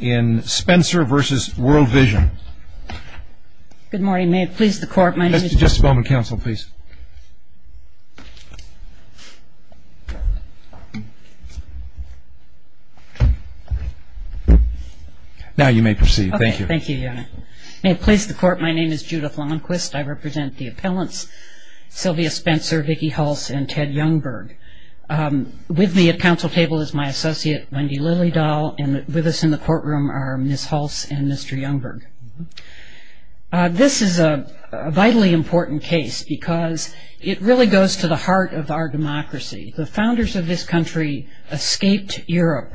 May it please the Court, my name is Judith Longquist. I represent the appellants Sylvia Spencer, Vicki Hulse, and Ted Youngberg. With me at council table is my associate Wendy Lillydahl and with us in the courtroom are Ms. Hulse and Mr. Youngberg. This is a vitally important case because it really goes to the heart of our democracy. The founders of this country escaped Europe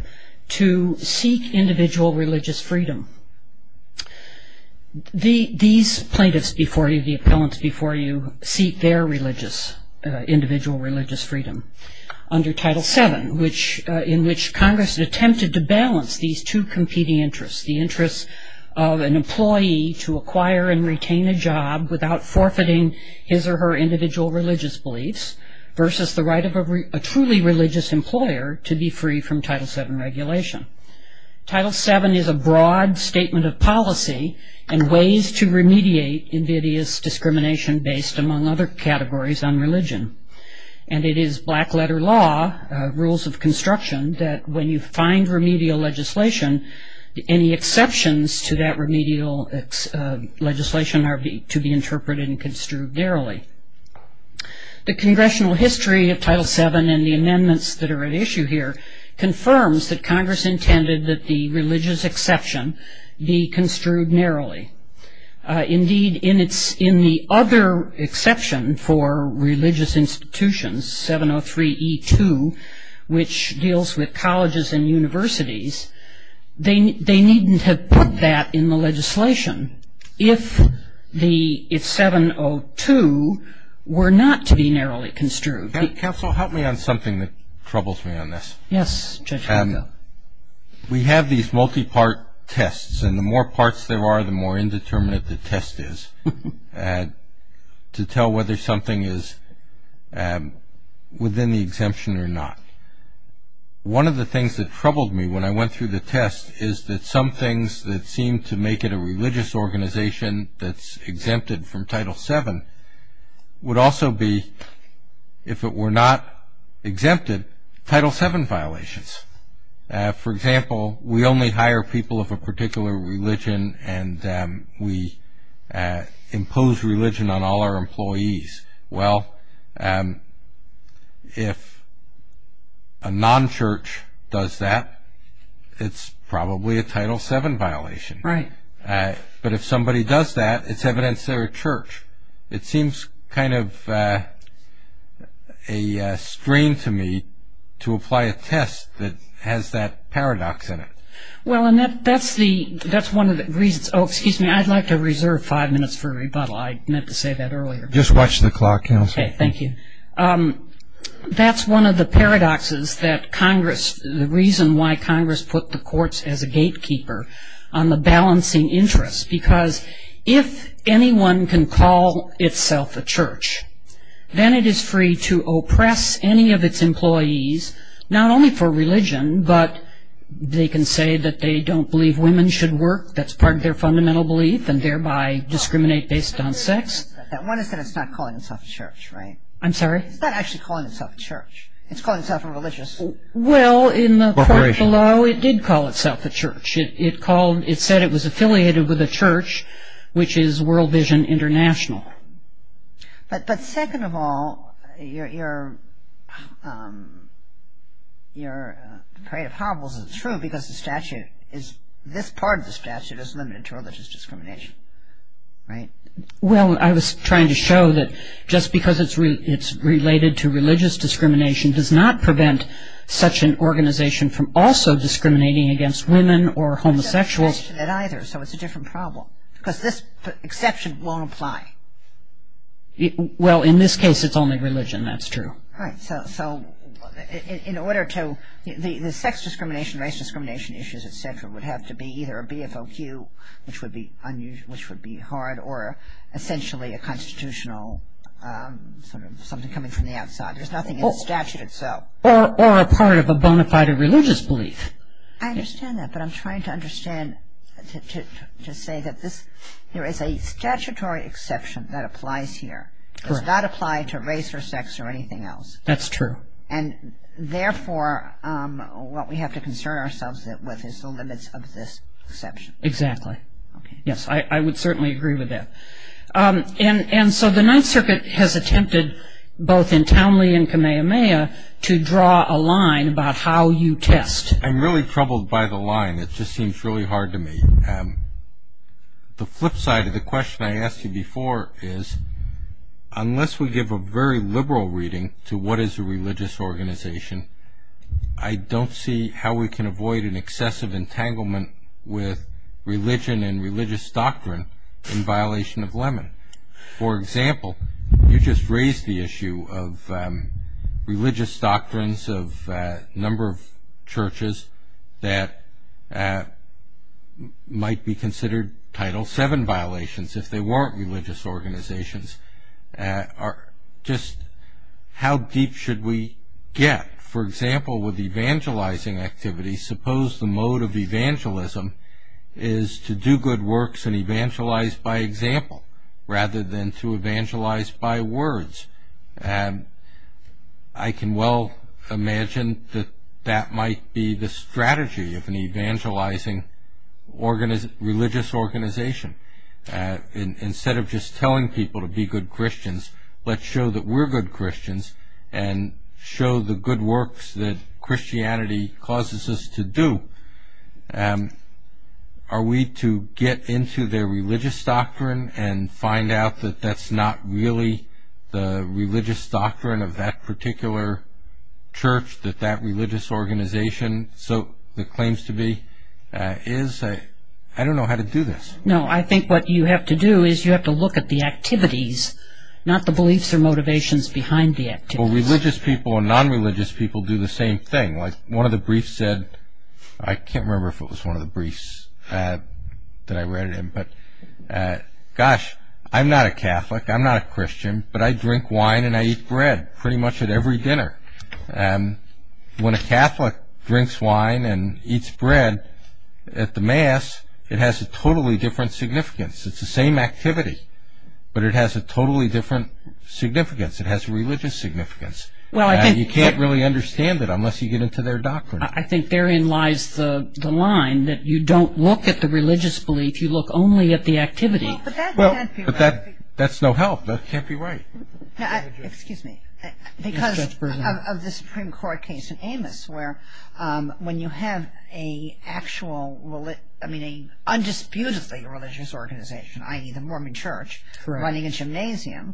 to seek individual religious freedom. These plaintiffs before you, the appellants before you, seek their individual religious freedom. Under Title VII, in which Congress attempted to balance these two competing interests, the interest of an employee to acquire and retain a job without forfeiting his or her individual religious beliefs versus the right of a truly religious employer to be free from Title VII regulation. Title VII is a broad statement of policy and ways to remediate invidious discrimination based, among other categories, on religion. And it is black letter law, rules of construction, that when you find remedial legislation, any exceptions to that remedial legislation are to be interpreted and construed narrowly. The congressional history of Title VII and the amendments that are at issue here confirms that Congress intended that the religious exception be construed narrowly. Indeed, in the other exception for religious institutions, 703E2, which deals with colleges and universities, they needn't have put that in the legislation if 702 were not to be narrowly construed. Counsel, help me on something that troubles me on this. Yes, Judge Rizzo. We have these multi-part tests, and the more parts there are, the more indeterminate the test is to tell whether something is within the exemption or not. One of the things that troubled me when I went through the test is that some things that seem to make it a religious organization that's exempted from Title VII would also be, if it were not exempted, Title VII violations. For example, we only hire people of a particular religion, and we impose religion on all our employees. Well, if a non-church does that, it's probably a Title VII violation. Right. But if somebody does that, it's evidence they're a church. It seems kind of a strain to me to apply a test that has that paradox in it. Well, and that's one of the reasons. Oh, excuse me. I'd like to reserve five minutes for rebuttal. I meant to say that earlier. Just watch the clock, Counsel. Okay. Thank you. That's one of the paradoxes that Congress, the reason why Congress put the courts as a gatekeeper on the balancing interests, because if anyone can call itself a church, then it is free to oppress any of its employees, not only for religion, but they can say that they don't believe women should work, that's part of their fundamental belief, and thereby discriminate based on sex. One is that it's not calling itself a church, right? I'm sorry? It's not actually calling itself a church. It's calling itself a religious corporation. Well, in the court below, it did call itself a church. It said it was affiliated with a church, which is World Vision International. But second of all, your parade of hobbles is true, because this part of the statute is limited to religious discrimination, right? Well, I was trying to show that just because it's related to religious discrimination does not prevent such an organization from also discriminating against women or homosexuals. It's not limited to that either, so it's a different problem, because this exception won't apply. Well, in this case, it's only religion. That's true. Right. It would have to be either a BFOQ, which would be hard, or essentially a constitutional sort of something coming from the outside. There's nothing in the statute itself. Or a part of a bona fide religious belief. I understand that, but I'm trying to understand, to say that there is a statutory exception that applies here. Correct. It does not apply to race or sex or anything else. That's true. And therefore, what we have to concern ourselves with is the limits of this exception. Exactly. Yes, I would certainly agree with that. And so the Ninth Circuit has attempted, both in Townley and Kamehameha, to draw a line about how you test. I'm really troubled by the line. It just seems really hard to me. The flip side of the question I asked you before is, unless we give a very liberal reading to what is a religious organization, I don't see how we can avoid an excessive entanglement with religion and religious doctrine in violation of Lemon. For example, you just raised the issue of religious doctrines of a number of churches that might be considered Title VII violations if they weren't religious organizations. Just how deep should we get? For example, with evangelizing activities, suppose the mode of evangelism is to do good works and evangelize by example, rather than to evangelize by words. I can well imagine that that might be the strategy of an evangelizing religious organization. Instead of just telling people to be good Christians, let's show that we're good Christians and show the good works that Christianity causes us to do. Are we to get into their religious doctrine and find out that that's not really the religious doctrine of that particular church, that that religious organization claims to be? I don't know how to do this. No, I think what you have to do is you have to look at the activities, not the beliefs or motivations behind the activities. Religious people and non-religious people do the same thing. One of the briefs said, I can't remember if it was one of the briefs that I read it in, but, gosh, I'm not a Catholic, I'm not a Christian, but I drink wine and I eat bread pretty much at every dinner. When a Catholic drinks wine and eats bread at the Mass, it has a totally different significance. It's the same activity, but it has a totally different significance. It has a religious significance. You can't really understand it unless you get into their doctrine. I think therein lies the line that you don't look at the religious belief, you look only at the activity. But that's no help. That can't be right. Excuse me. Because of the Supreme Court case in Amos, where when you have an undisputedly religious organization, i.e., the Mormon church, running a gymnasium,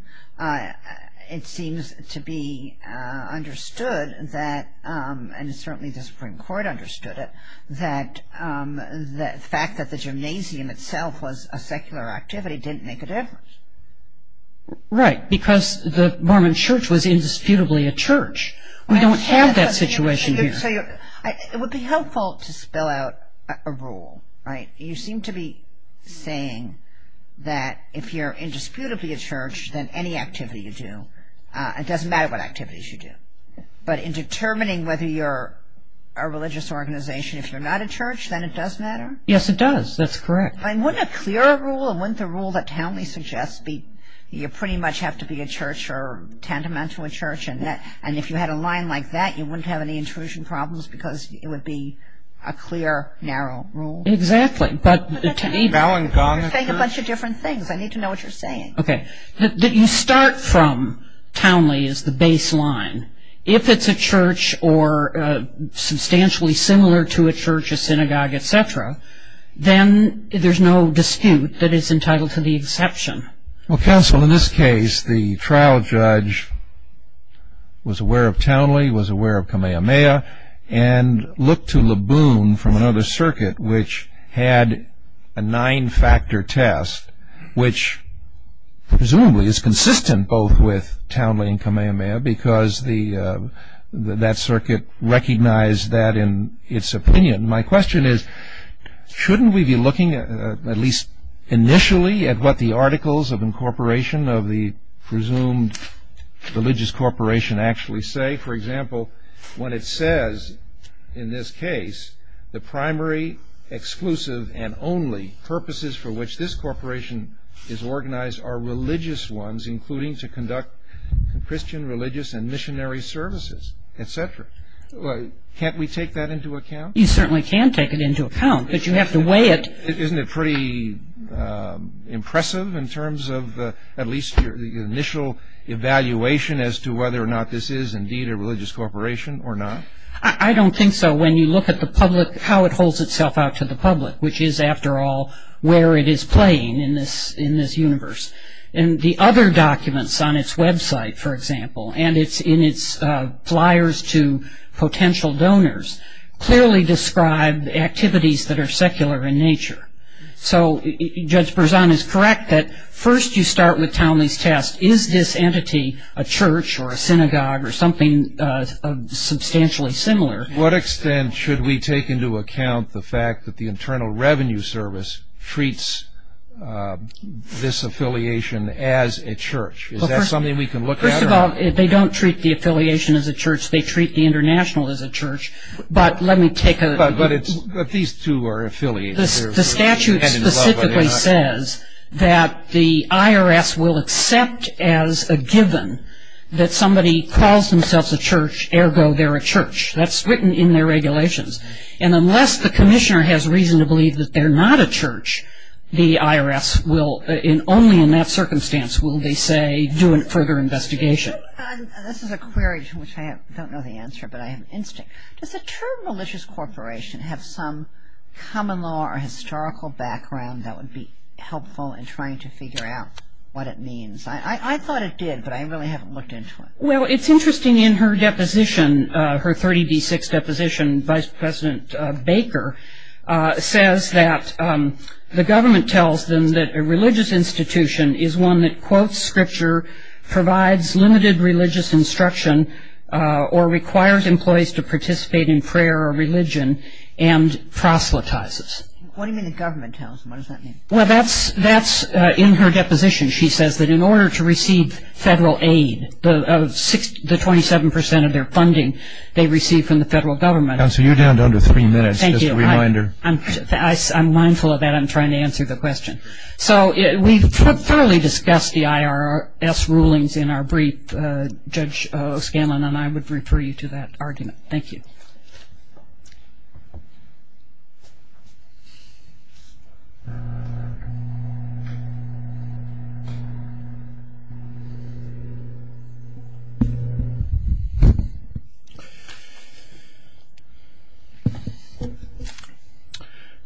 it seems to be understood, and certainly the Supreme Court understood it, that the fact that the gymnasium itself was a secular activity didn't make a difference. Right, because the Mormon church was indisputably a church. We don't have that situation here. You seem to be saying that if you're indisputably a church, then any activity you do, it doesn't matter what activities you do. But in determining whether you're a religious organization, if you're not a church, then it does matter? Yes, it does. That's correct. Wouldn't a clearer rule, wouldn't the rule that Townley suggests, you pretty much have to be a church or tantamount to a church, and if you had a line like that, you wouldn't have any intrusion problems because it would be a clear, narrow rule? Exactly. You're saying a bunch of different things. I need to know what you're saying. Okay. You start from Townley as the baseline. If it's a church or substantially similar to a church, a synagogue, etc., then there's no dispute that it's entitled to the exception. Well, counsel, in this case, the trial judge was aware of Townley, was aware of Kamehameha, and looked to Laboon from another circuit, which had a nine-factor test, which presumably is consistent both with Townley and Kamehameha because that circuit recognized that in its opinion. My question is, shouldn't we be looking at least initially at what the articles of incorporation of the presumed religious corporation actually say? For example, when it says in this case, the primary, exclusive, and only purposes for which this corporation is organized are religious ones, including to conduct Christian, religious, and missionary services, etc. Can't we take that into account? You certainly can take it into account, but you have to weigh it. Isn't it pretty impressive in terms of at least the initial evaluation as to whether or not this is indeed a religious corporation or not? I don't think so. When you look at the public, how it holds itself out to the public, which is, after all, where it is playing in this universe. The other documents on its website, for example, and in its flyers to potential donors, clearly describe activities that are secular in nature. So Judge Berzon is correct that first you start with Townley's test. Is this entity a church or a synagogue or something substantially similar? What extent should we take into account the fact that the Internal Revenue Service treats this affiliation as a church? Is that something we can look at? First of all, they don't treat the affiliation as a church. They treat the international as a church. But let me take a look. But these two are affiliated. The statute specifically says that the IRS will accept as a given that somebody calls themselves a church, ergo they're a church. That's written in their regulations. And unless the commissioner has reason to believe that they're not a church, the IRS will only in that circumstance will they say do a further investigation. This is a query to which I don't know the answer, but I have instinct. Does the term religious corporation have some common law or historical background that would be helpful in trying to figure out what it means? I thought it did, but I really haven't looked into it. Well, it's interesting in her deposition, her 30D6 deposition, Vice President Baker says that the government tells them that a religious institution is one that, provides limited religious instruction or requires employees to participate in prayer or religion and proselytizes. What do you mean the government tells them? What does that mean? Well, that's in her deposition. She says that in order to receive federal aid, the 27% of their funding they receive from the federal government. Counsel, you're down to under three minutes. Thank you. Just a reminder. I'm mindful of that. I'm trying to answer the question. So we've thoroughly discussed the IRS rulings in our brief. Judge Scanlon and I would refer you to that argument. Thank you.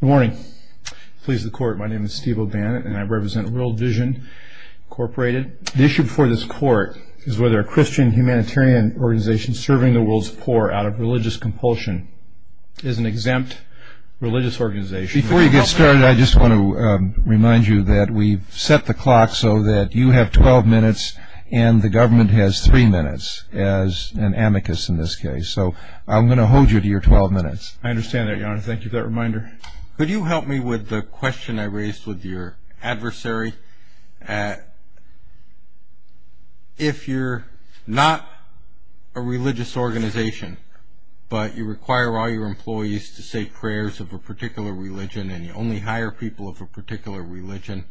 Good morning. Please, the Court. My name is Steve O'Bannon, and I represent World Vision Incorporated. The issue before this Court is whether a Christian humanitarian organization serving the world's poor out of religious compulsion is an exempt religious organization. Before you get started, I just want to remind you that we've set the clock so that you have 12 minutes and the government has three minutes as an amicus in this case. So I'm going to hold you to your 12 minutes. I understand that, Your Honor. Thank you for that reminder. Could you help me with the question I raised with your adversary? If you're not a religious organization, but you require all your employees to say prayers of a particular religion and you only hire people of a particular religion,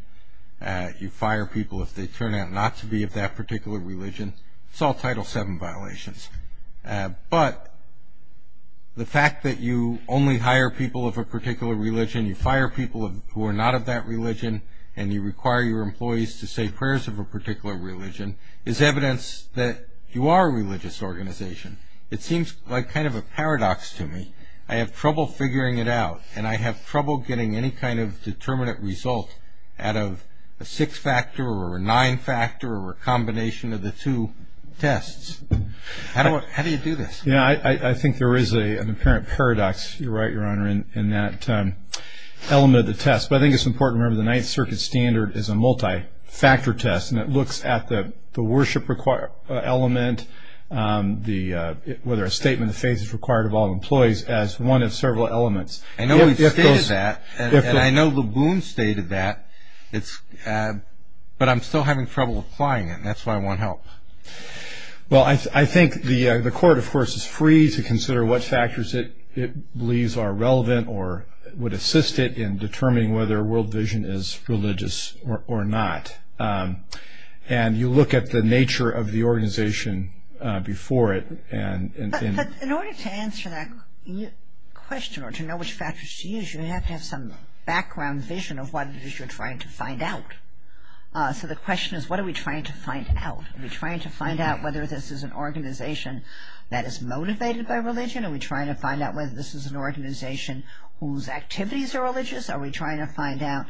you fire people if they turn out not to be of that particular religion, it's all Title VII violations. But the fact that you only hire people of a particular religion, you fire people who are not of that religion, and you require your employees to say prayers of a particular religion is evidence that you are a religious organization. It seems like kind of a paradox to me. I have trouble figuring it out, and I have trouble getting any kind of determinate result out of a six-factor or a nine-factor or a combination of the two tests. How do you do this? I think there is an apparent paradox, you're right, Your Honor, in that element of the test. But I think it's important to remember the Ninth Circuit standard is a multi-factor test, and it looks at the worship element, whether a statement of faith is required of all employees, as one of several elements. I know we've stated that, and I know Le Boon stated that, but I'm still having trouble applying it, and that's why I want help. Well, I think the Court, of course, is free to consider what factors it believes are relevant or would assist it in determining whether World Vision is religious or not. And you look at the nature of the organization before it. But in order to answer that question or to know which factors to use, you have to have some background vision of what it is you're trying to find out. So the question is, what are we trying to find out? Are we trying to find out whether this is an organization that is motivated by religion? Are we trying to find out whether this is an organization whose activities are religious? Are we trying to find out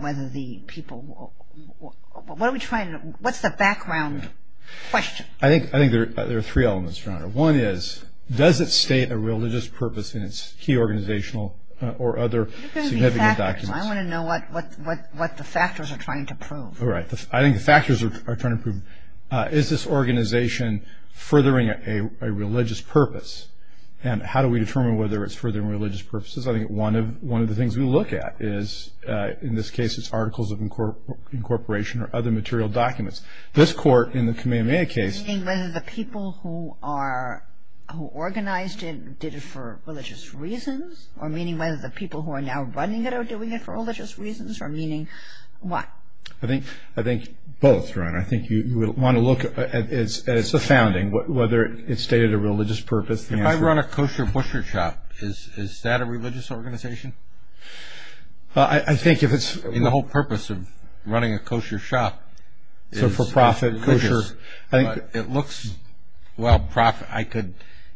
whether the people... What's the background question? I think there are three elements, Your Honor. One is, does it state a religious purpose in its key organizational or other significant documents? I want to know what the factors are trying to prove. All right. I think the factors are trying to prove, is this organization furthering a religious purpose? And how do we determine whether it's furthering religious purposes? I think one of the things we look at is, in this case, it's articles of incorporation or other material documents. This court, in the Kamehameha case... Meaning whether the people who organized it did it for religious reasons, or meaning whether the people who are now running it are doing it for religious reasons, or meaning what? I think both, Your Honor. I think you want to look at its founding, whether it stated a religious purpose. If I run a kosher butcher shop, is that a religious organization? I think if it's... The whole purpose of running a kosher shop is kosher. It looks, well,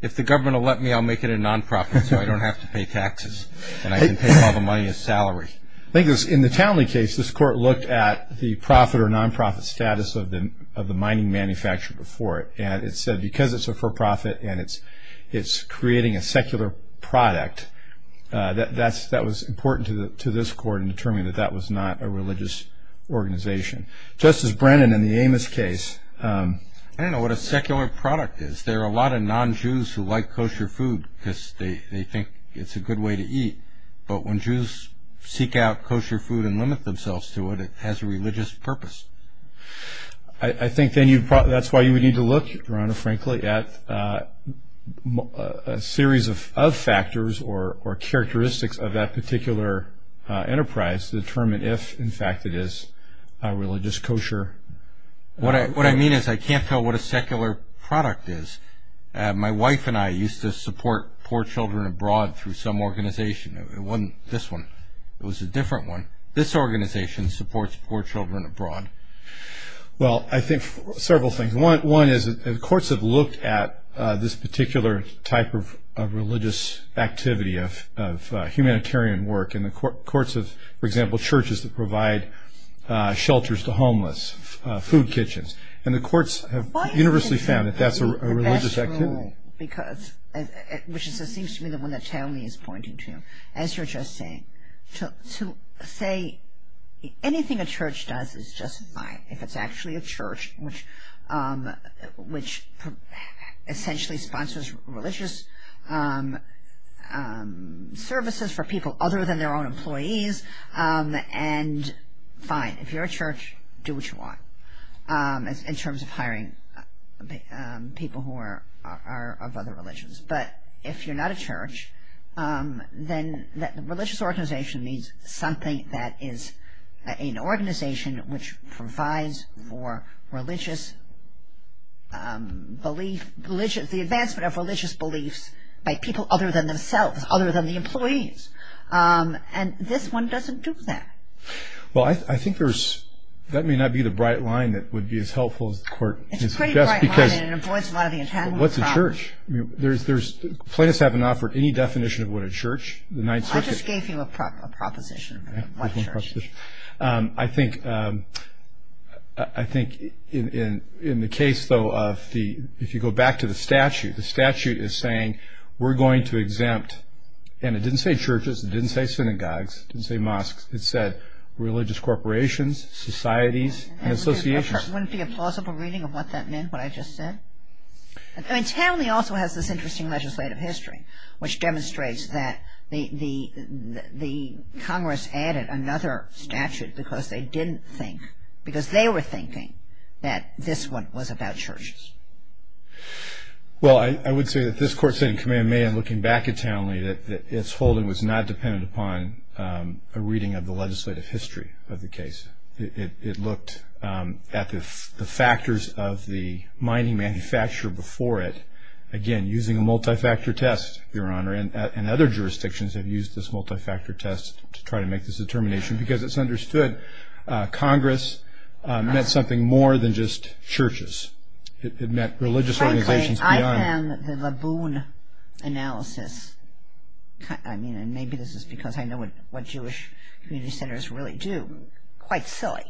if the government will let me, I'll make it a non-profit, so I don't have to pay taxes, and I can pay all the money as salary. I think in the Townley case, this court looked at the profit or non-profit status of the mining manufacturer before it, and it said because it's a for-profit and it's creating a secular product, that was important to this court in determining that that was not a religious organization. Justice Brennan, in the Amos case... I don't know what a secular product is. There are a lot of non-Jews who like kosher food because they think it's a good way to eat, but when Jews seek out kosher food and limit themselves to it, it has a religious purpose. I think then that's why you would need to look, Your Honor, frankly, at a series of factors or characteristics of that particular enterprise to determine if, in fact, it is a religious kosher... What I mean is I can't tell what a secular product is. My wife and I used to support poor children abroad through some organization. It wasn't this one. It was a different one. This organization supports poor children abroad. Well, I think several things. One is the courts have looked at this particular type of religious activity of humanitarian work, and the courts have, for example, churches that provide shelters to homeless, food kitchens, and the courts have universally found that that's a religious activity. It seems to me that what Naomi is pointing to, as you're just saying, to say anything a church does is just fine. If it's actually a church which essentially sponsors religious services for people other than their own employees, then fine. If you're a church, do what you want in terms of hiring people who are of other religions. But if you're not a church, then a religious organization needs something that is an organization which provides for the advancement of religious beliefs by people other than themselves, other than the employees, and this one doesn't do that. Well, I think that may not be the bright line that would be as helpful as the court suggests. It's a pretty bright line, and it avoids a lot of the intended problem. What's a church? Plaintiffs haven't offered any definition of what a church, the Ninth Circuit. I just gave you a proposition of what a church is. I think in the case, though, if you go back to the statute, the statute is saying we're going to exempt, and it didn't say churches, it didn't say synagogues, it didn't say mosques. It said religious corporations, societies, and associations. Wouldn't it be a plausible reading of what that meant, what I just said? I mean, Townley also has this interesting legislative history, which demonstrates that the Congress added another statute because they didn't think, because they were thinking that this one was about churches. Well, I would say that this court said in Command Me, and looking back at Townley, that its holding was not dependent upon a reading of the legislative history of the case. It looked at the factors of the mining manufacturer before it. Again, using a multi-factor test, Your Honor, and other jurisdictions have used this multi-factor test to try to make this determination because it's understood Congress meant something more than just churches. Frankly, I found the Laboon analysis, and maybe this is because I know what Jewish community centers really do, quite silly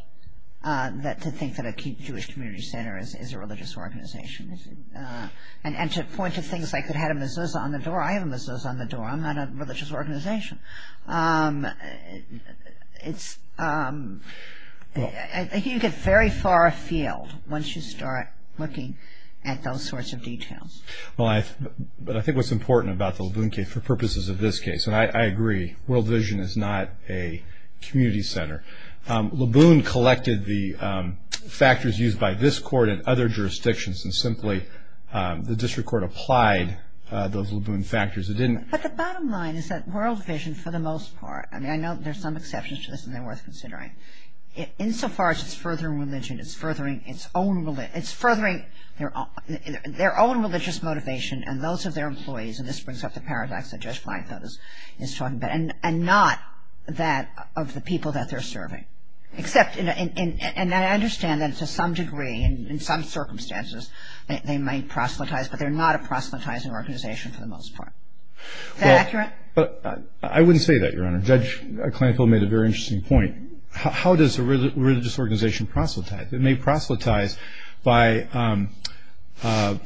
to think that a Jewish community center is a religious organization. And to point to things like they had a mezuzah on the door, I have a mezuzah on the door, I'm not a religious organization. I think you get very far afield once you start looking at those sorts of details. But I think what's important about the Laboon case, for purposes of this case, and I agree, World Vision is not a community center. Laboon collected the factors used by this court and other jurisdictions and simply the district court applied those Laboon factors. But the bottom line is that World Vision, for the most part, I mean I know there's some exceptions to this and they're worth considering, insofar as it's furthering religion, it's furthering its own religion, it's furthering their own religious motivation and those of their employees, and this brings up the paradox that Judge Flanagan is talking about, and not that of the people that they're serving. And I understand that to some degree, in some circumstances, they might proselytize, but they're not a proselytizing organization for the most part. Is that accurate? I wouldn't say that, Your Honor. Judge Clankville made a very interesting point. How does a religious organization proselytize? It may proselytize by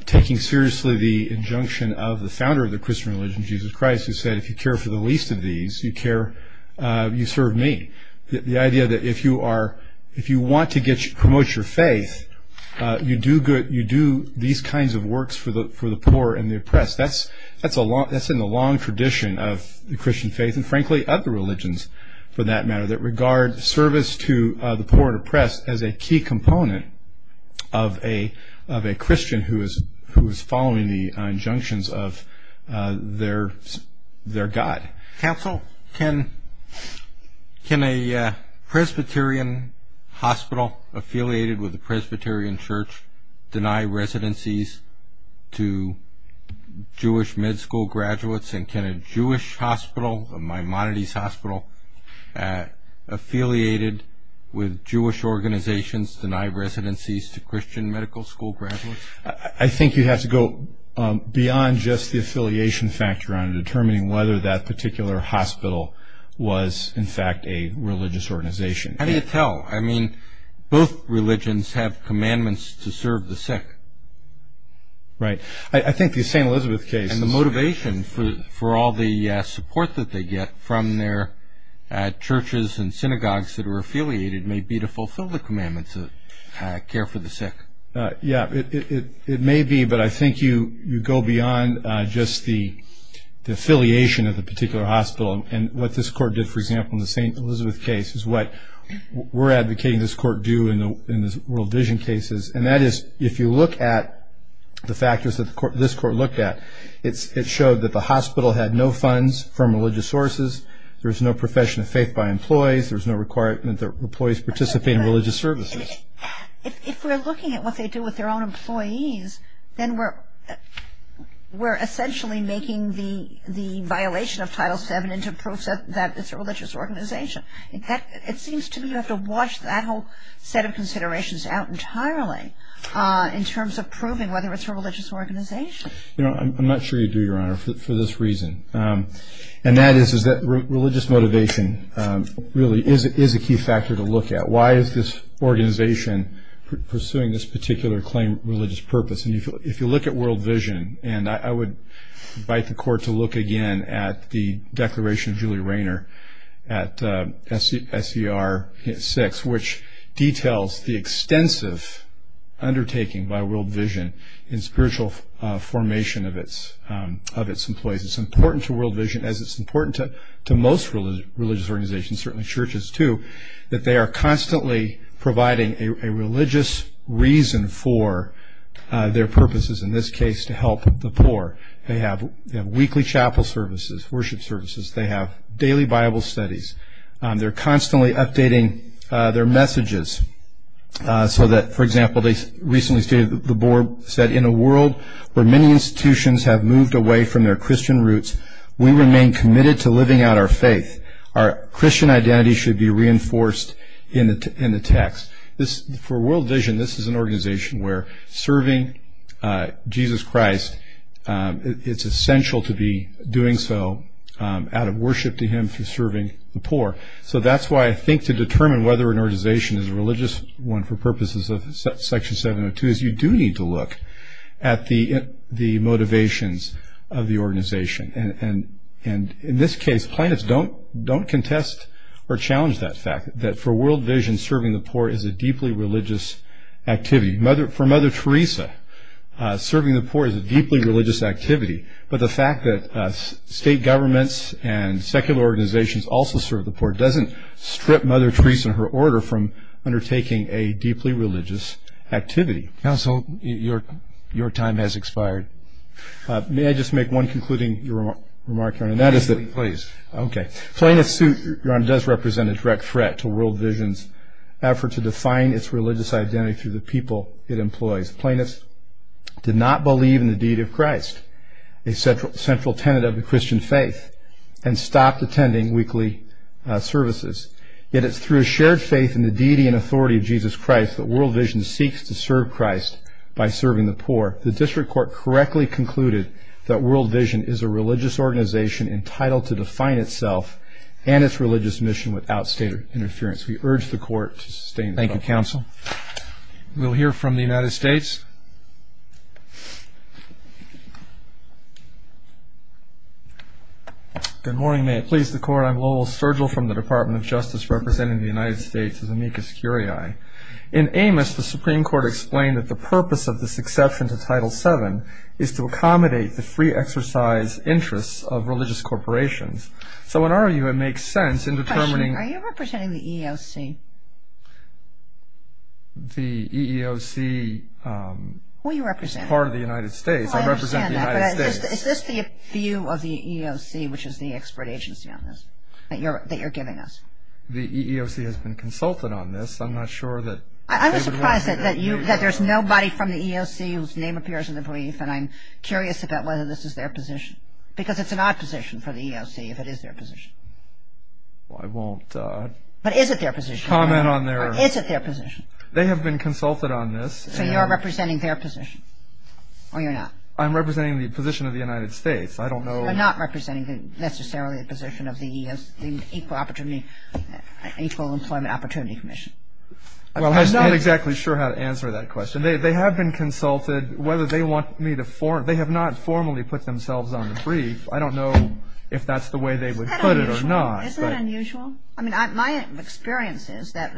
taking seriously the injunction of the founder of the Christian religion, Jesus Christ, who said, if you care for the least of these, you serve me. The idea that if you want to promote your faith, you do these kinds of works for the poor and the oppressed. That's in the long tradition of the Christian faith and, frankly, other religions, for that matter, that regard service to the poor and oppressed as a key component of a Christian who is following the injunctions of their God. Counsel, can a Presbyterian hospital affiliated with a Presbyterian church deny residencies to Jewish med school graduates? And can a Jewish hospital, a Maimonides Hospital, affiliated with Jewish organizations, deny residencies to Christian medical school graduates? I think you have to go beyond just the affiliation factor on determining whether that particular hospital was, in fact, a religious organization. How do you tell? I mean, both religions have commandments to serve the sick. Right. I think the St. Elizabeth case... And the motivation for all the support that they get from their churches and synagogues that are affiliated may be to fulfill the commandments of care for the sick. Yeah. It may be, but I think you go beyond just the affiliation of the particular hospital. And what this court did, for example, in the St. Elizabeth case, is what we're advocating this court do in the World Vision cases. And that is, if you look at the factors that this court looked at, it showed that the hospital had no funds from religious sources, there was no profession of faith by employees, there was no requirement that employees participate in religious services. If we're looking at what they do with their own employees, then we're essentially making the violation of Title VII into proof that it's a religious organization. It seems to me you have to wash that whole set of considerations out entirely in terms of proving whether it's a religious organization. I'm not sure you do, Your Honor, for this reason. And that is that religious motivation really is a key factor to look at. Why is this organization pursuing this particular claimed religious purpose? And if you look at World Vision, and I would invite the court to look again at the declaration of Julie Rayner at SCR 6, which details the extensive undertaking by World Vision in spiritual formation of its employees. It's important to World Vision, as it's important to most religious organizations, and certainly churches too, that they are constantly providing a religious reason for their purposes, in this case to help the poor. They have weekly chapel services, worship services. They have daily Bible studies. They're constantly updating their messages so that, for example, they recently stated, the board said, in a world where many institutions have moved away from their Christian roots, we remain committed to living out our faith. Our Christian identity should be reinforced in the text. For World Vision, this is an organization where serving Jesus Christ, it's essential to be doing so out of worship to him for serving the poor. So that's why I think to determine whether an organization is a religious one for purposes of Section 702 is you do need to look at the motivations of the organization. In this case, planets don't contest or challenge that fact, that for World Vision, serving the poor is a deeply religious activity. For Mother Teresa, serving the poor is a deeply religious activity. But the fact that state governments and secular organizations also serve the poor doesn't strip Mother Teresa and her order from undertaking a deeply religious activity. Your time has expired. May I just make one concluding remark, Your Honor? Please. Okay. Planets does represent a direct threat to World Vision's effort to define its religious identity through the people it employs. Planets did not believe in the deity of Christ, a central tenet of the Christian faith, and stopped attending weekly services. Yet it's through a shared faith in the deity and authority of Jesus Christ that World Vision seeks to serve Christ by serving the poor. Therefore, the District Court correctly concluded that World Vision is a religious organization entitled to define itself and its religious mission without state interference. We urge the Court to sustain the judgment. Thank you, Counsel. We'll hear from the United States. Good morning. May it please the Court, I'm Lowell Sturgill from the Department of Justice representing the United States as amicus curiae. In Amos, the Supreme Court explained that the purpose of this exception to Title VII is to accommodate the free exercise interests of religious corporations. So in our view, it makes sense in determining- Question. Are you representing the EEOC? The EEOC- Who are you representing? Part of the United States. I represent the United States. I understand that, but is this the view of the EEOC, which is the expert agency on this, that you're giving us? The EEOC has been consulted on this. I'm not sure that- I'm surprised that there's nobody from the EEOC whose name appears in the brief, and I'm curious about whether this is their position, because it's an odd position for the EEOC if it is their position. I won't- But is it their position? Comment on their- Or is it their position? They have been consulted on this, and- So you're representing their position, or you're not? I'm representing the position of the United States. I don't know- You're not representing necessarily the position of the EEOC, the Equal Employment Opportunity Commission. Well, I'm not exactly sure how to answer that question. They have been consulted whether they want me to- They have not formally put themselves on the brief. I don't know if that's the way they would put it or not. Isn't that unusual? I mean, my experience is that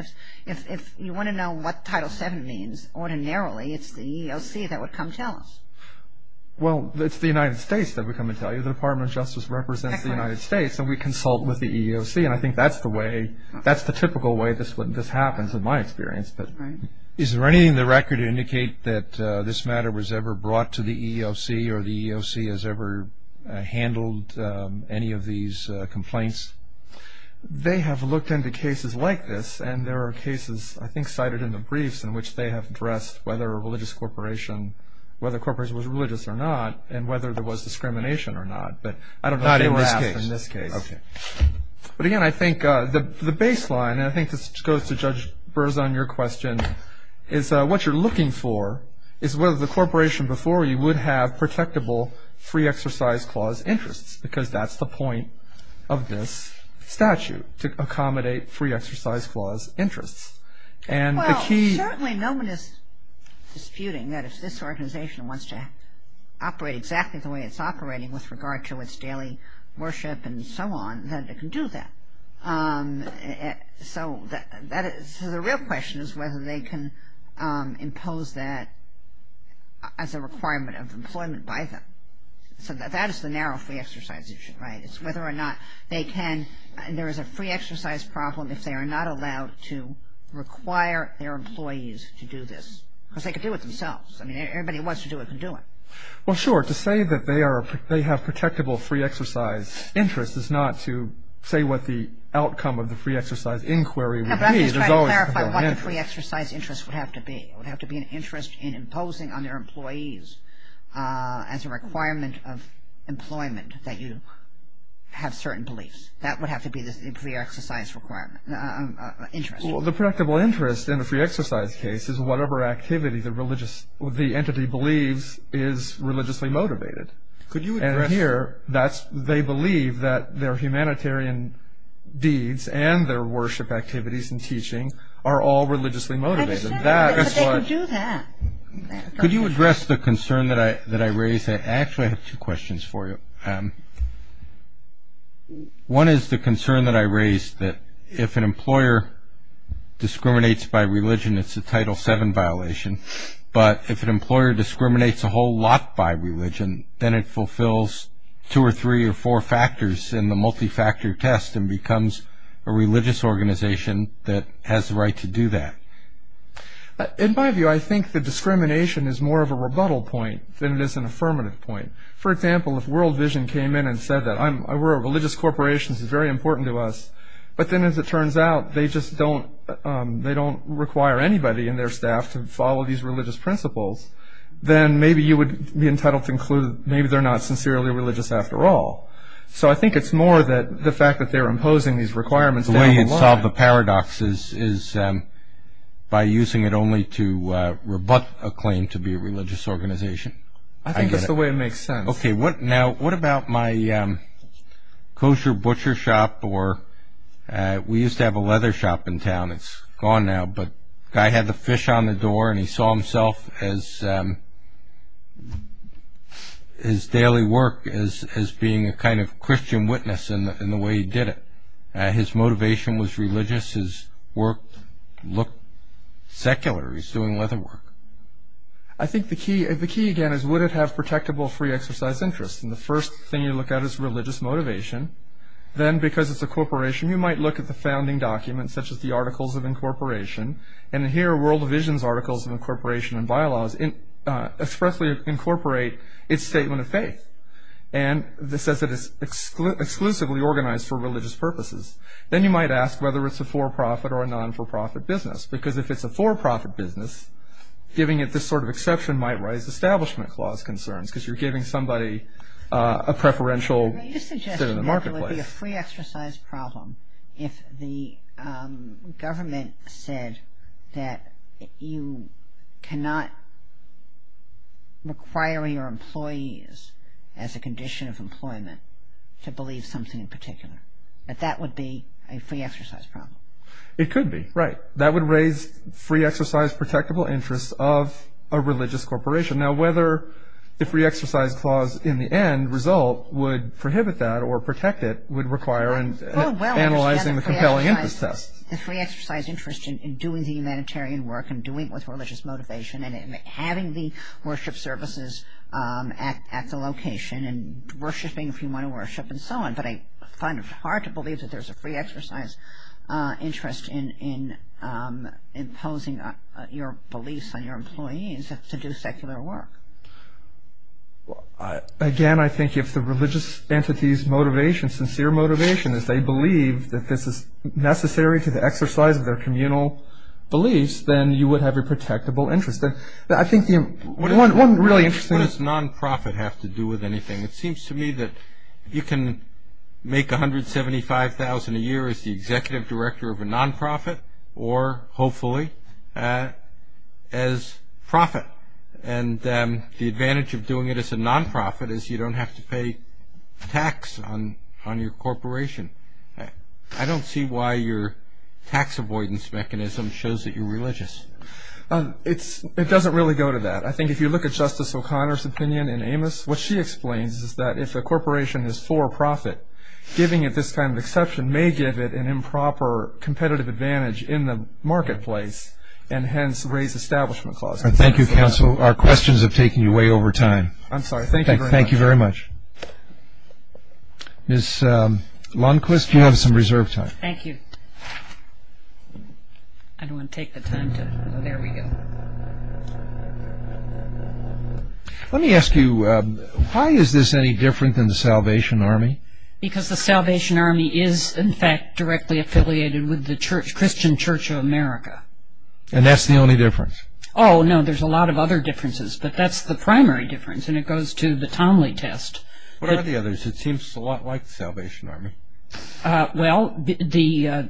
if you want to know what Title VII means, ordinarily it's the EEOC that would come tell us. Well, it's the United States that would come and tell you. The Department of Justice represents the United States, and we consult with the EEOC, and I think that's the typical way this happens in my experience. Right. Is there anything in the record to indicate that this matter was ever brought to the EEOC or the EEOC has ever handled any of these complaints? They have looked into cases like this, and there are cases I think cited in the briefs in which they have addressed whether a religious corporation, whether a corporation was religious or not, and whether there was discrimination or not. Not in this case. But I don't know if they would ask in this case. Okay. But again, I think the baseline, and I think this goes to Judge Burr's on your question, is what you're looking for is whether the corporation before you would have protectable free exercise clause interests, because that's the point of this statute, to accommodate free exercise clause interests. Well, certainly no one is disputing that if this organization wants to operate exactly the way it's operating with regard to its daily worship and so on, that it can do that. So the real question is whether they can impose that as a requirement of employment by them. So that is the narrow free exercise issue, right. It's whether or not they can. There is a free exercise problem if they are not allowed to require their employees to do this, because they can do it themselves. I mean, everybody who wants to do it can do it. Well, sure. To say that they have protectable free exercise interests is not to say what the outcome of the free exercise inquiry would be. No, but I'm just trying to clarify what the free exercise interests would have to be. It would have to be an interest in imposing on their employees as a requirement of employment that you have certain beliefs. That would have to be the free exercise interest. Well, the protectable interest in the free exercise case is whatever activity the entity believes is religiously motivated. And here, they believe that their humanitarian deeds and their worship activities and teaching are all religiously motivated. I understand that, but they can do that. Could you address the concern that I raised? Actually, I have two questions for you. One is the concern that I raised that if an employer discriminates by religion, it's a Title VII violation. But if an employer discriminates a whole lot by religion, then it fulfills two or three or four factors in the multi-factor test and becomes a religious organization that has the right to do that. In my view, I think the discrimination is more of a rebuttal point than it is an affirmative point. For example, if World Vision came in and said that we're a religious corporation, this is very important to us, but then as it turns out, they don't require anybody in their staff to follow these religious principles, then maybe you would be entitled to conclude maybe they're not sincerely religious after all. So I think it's more the fact that they're imposing these requirements down the line. The way you'd solve the paradox is by using it only to rebut a claim to be a religious organization. I think that's the way it makes sense. Now, what about my kosher butcher shop? We used to have a leather shop in town. It's gone now, but the guy had the fish on the door, and he saw himself as his daily work as being a kind of Christian witness in the way he did it. His motivation was religious. His work looked secular. He was doing leather work. I think the key, again, is would it have protectable free exercise interests? The first thing you look at is religious motivation. Then, because it's a corporation, you might look at the founding documents, such as the Articles of Incorporation, and here World Vision's Articles of Incorporation and Bylaws expressly incorporate its statement of faith. It says it is exclusively organized for religious purposes. Then you might ask whether it's a for-profit or a non-for-profit business, because if it's a for-profit business, giving it this sort of exception might raise Establishment Clause concerns, because you're giving somebody a preferential sit in the marketplace. You suggested that it would be a free exercise problem if the government said that you cannot require your employees as a condition of employment to believe something in particular, that that would be a free exercise problem. It could be, right. That would raise free exercise protectable interests of a religious corporation. Now, whether the free exercise clause in the end result would prohibit that or protect it would require analyzing the compelling interest test. The free exercise interest in doing the humanitarian work and doing it with religious motivation and having the worship services at the location and worshiping if you want to worship and so on. But I find it hard to believe that there's a free exercise interest in imposing your beliefs on your employees to do secular work. Again, I think if the religious entity's motivation, sincere motivation, is they believe that this is necessary to the exercise of their communal beliefs, then you would have a protectable interest. I think one really interesting... What does non-profit have to do with anything? It seems to me that you can make $175,000 a year as the executive director of a non-profit or, hopefully, as profit. And the advantage of doing it as a non-profit is you don't have to pay tax on your corporation. I don't see why your tax avoidance mechanism shows that you're religious. It doesn't really go to that. But I think if you look at Justice O'Connor's opinion in Amos, what she explains is that if a corporation is for profit, giving it this kind of exception may give it an improper competitive advantage in the marketplace and hence raise establishment clauses. Thank you, counsel. Our questions have taken you way over time. I'm sorry. Thank you very much. Thank you very much. Ms. Lundquist, you have some reserve time. Thank you. I don't want to take the time to... Oh, there we go. Let me ask you, why is this any different than the Salvation Army? Because the Salvation Army is, in fact, directly affiliated with the Christian Church of America. And that's the only difference? Oh, no. There's a lot of other differences, but that's the primary difference, and it goes to the Tomley test. What are the others? It seems a lot like the Salvation Army. Well, the...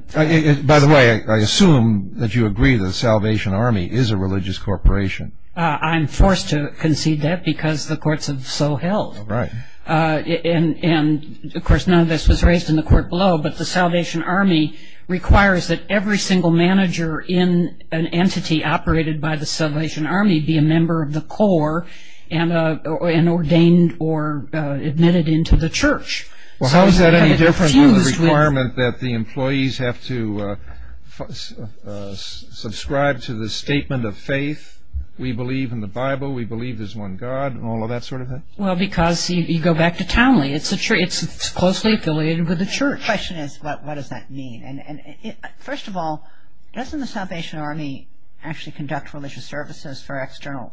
By the way, I assume that you agree that the Salvation Army is a religious corporation. I'm forced to concede that because the courts have so held. Right. And, of course, none of this was raised in the court below, but the Salvation Army requires that every single manager in an entity operated by the Salvation Army be a member of the core and ordained or admitted into the church. Well, how is that any different than the requirement that the employees have to subscribe to the statement of faith, we believe in the Bible, we believe there's one God, and all of that sort of thing? Well, because you go back to Tomley. It's closely affiliated with the church. The question is, what does that mean? First of all, doesn't the Salvation Army actually conduct religious services for external...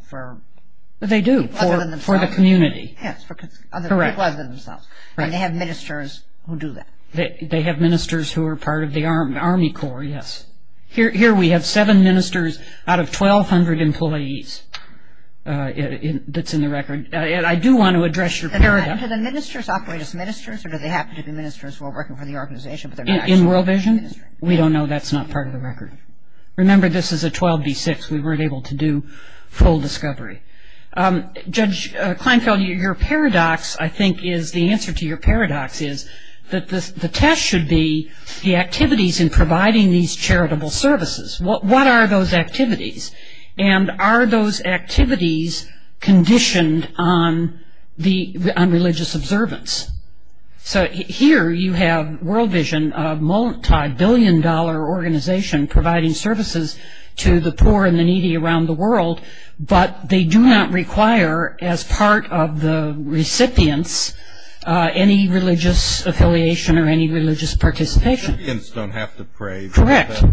They do. Other than themselves. For the community. Yes. Other than themselves. Correct. And they have ministers who do that. They have ministers who are part of the Army Corps, yes. Here we have seven ministers out of 1,200 employees that's in the record. And I do want to address your... Do the ministers operate as ministers, or do they happen to be ministers who are working for the organization? In World Vision? We don't know. That's not part of the record. Remember, this is a 12B6. We weren't able to do full discovery. Judge Kleinfeld, your paradox, I think, is... The answer to your paradox is that the test should be the activities in providing these charitable services. What are those activities? And are those activities conditioned on religious observance? So here you have World Vision, a multibillion-dollar organization, providing services to the poor and the needy around the world, but they do not require as part of the recipients any religious affiliation or any religious participation. The recipients don't have to pray. Correct. But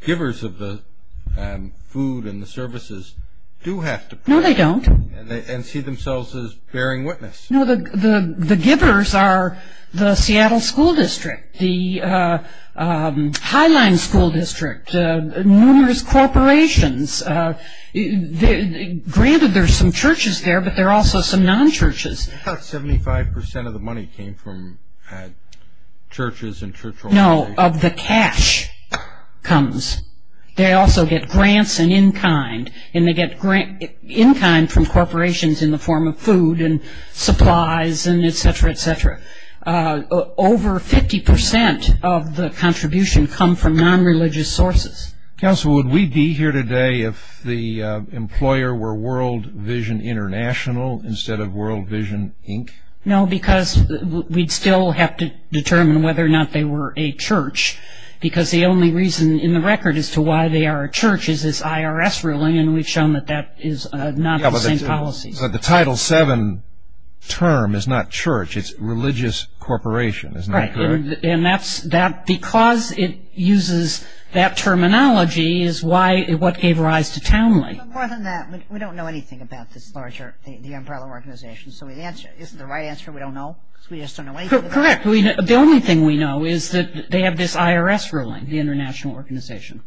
the givers of the food and the services do have to pray. No, they don't. And see themselves as bearing witness. No, the givers are the Seattle School District, the Highline School District, numerous corporations. Granted, there are some churches there, but there are also some non-churches. About 75% of the money came from churches and church organizations. No, of the cash comes. They also get grants and in-kind, and they get in-kind from corporations in the form of food and supplies and et cetera, et cetera. Over 50% of the contribution come from non-religious sources. Counsel, would we be here today if the employer were World Vision International instead of World Vision, Inc.? No, because we'd still have to determine whether or not they were a church, because the only reason in the record as to why they are a church is this IRS ruling, and we've shown that that is not the same policy. But the Title VII term is not church. It's religious corporation, isn't that correct? Because it uses that terminology is what gave rise to Townley. But more than that, we don't know anything about this larger umbrella organization, so isn't the right answer we don't know because we just don't know anything about it? Correct. The only thing we know is that they have this IRS ruling, the international organization.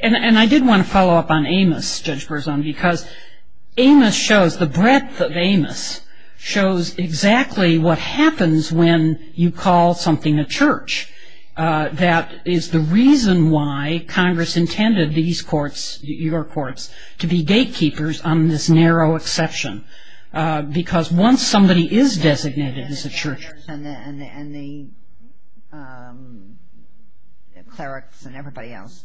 And I did want to follow up on Amos, Judge Berzon, because Amos shows the breadth of Amos shows exactly what happens when you call something a church. That is the reason why Congress intended these courts, your courts, to be gatekeepers on this narrow exception, because once somebody is designated as a church. And the clerics and everybody else.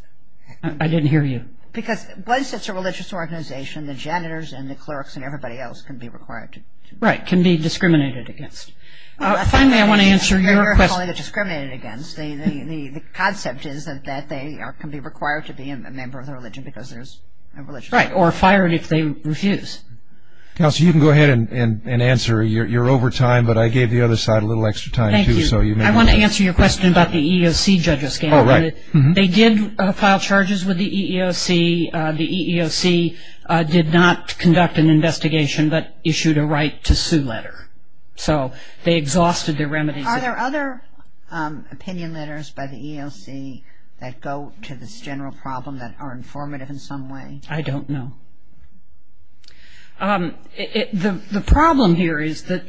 I didn't hear you. Because once it's a religious organization, the janitors and the clerics and everybody else can be required. Right. Can be discriminated against. Finally, I want to answer your question. You're calling it discriminated against. The concept is that they can be required to be a member of the religion because there's a religion. Right. Or fired if they refuse. Kelsey, you can go ahead and answer. You're over time, but I gave the other side a little extra time, too. Thank you. I want to answer your question about the EEOC judges scandal. Oh, right. They did file charges with the EEOC. The EEOC did not conduct an investigation but issued a right to sue letter. So they exhausted their remedies. Are there other opinion letters by the EEOC that go to this general problem that are informative in some way? I don't know. The problem here is that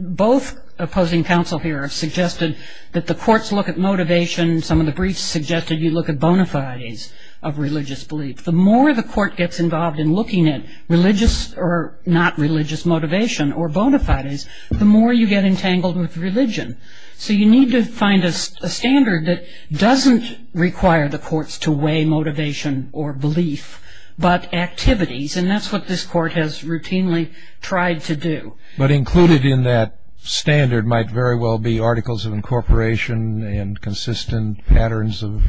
both opposing counsel here have suggested that the courts look at motivation. Some of the briefs suggested you look at bona fides of religious belief. The more the court gets involved in looking at religious or not religious motivation or bona fides, the more you get entangled with religion. So you need to find a standard that doesn't require the courts to weigh motivation or belief but activities, and that's what this court has routinely tried to do. But included in that standard might very well be articles of incorporation and consistent patterns of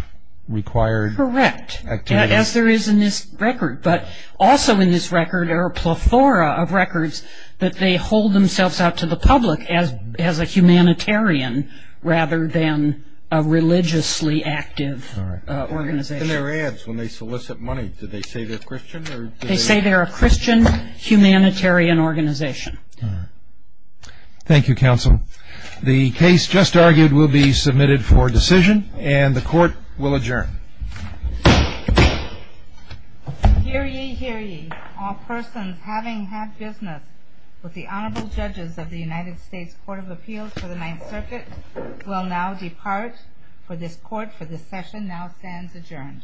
required activities. Correct, as there is in this record. But also in this record are a plethora of records that they hold themselves out to the public as a humanitarian rather than a religiously active organization. In their ads when they solicit money, do they say they're Christian? They say they're a Christian humanitarian organization. Thank you, counsel. The case just argued will be submitted for decision, and the court will adjourn. Hear ye, hear ye. All persons having had business with the Honorable Judges of the United States Court of Appeals for the Ninth Circuit will now depart for this session. Now stands adjourned. Thank you.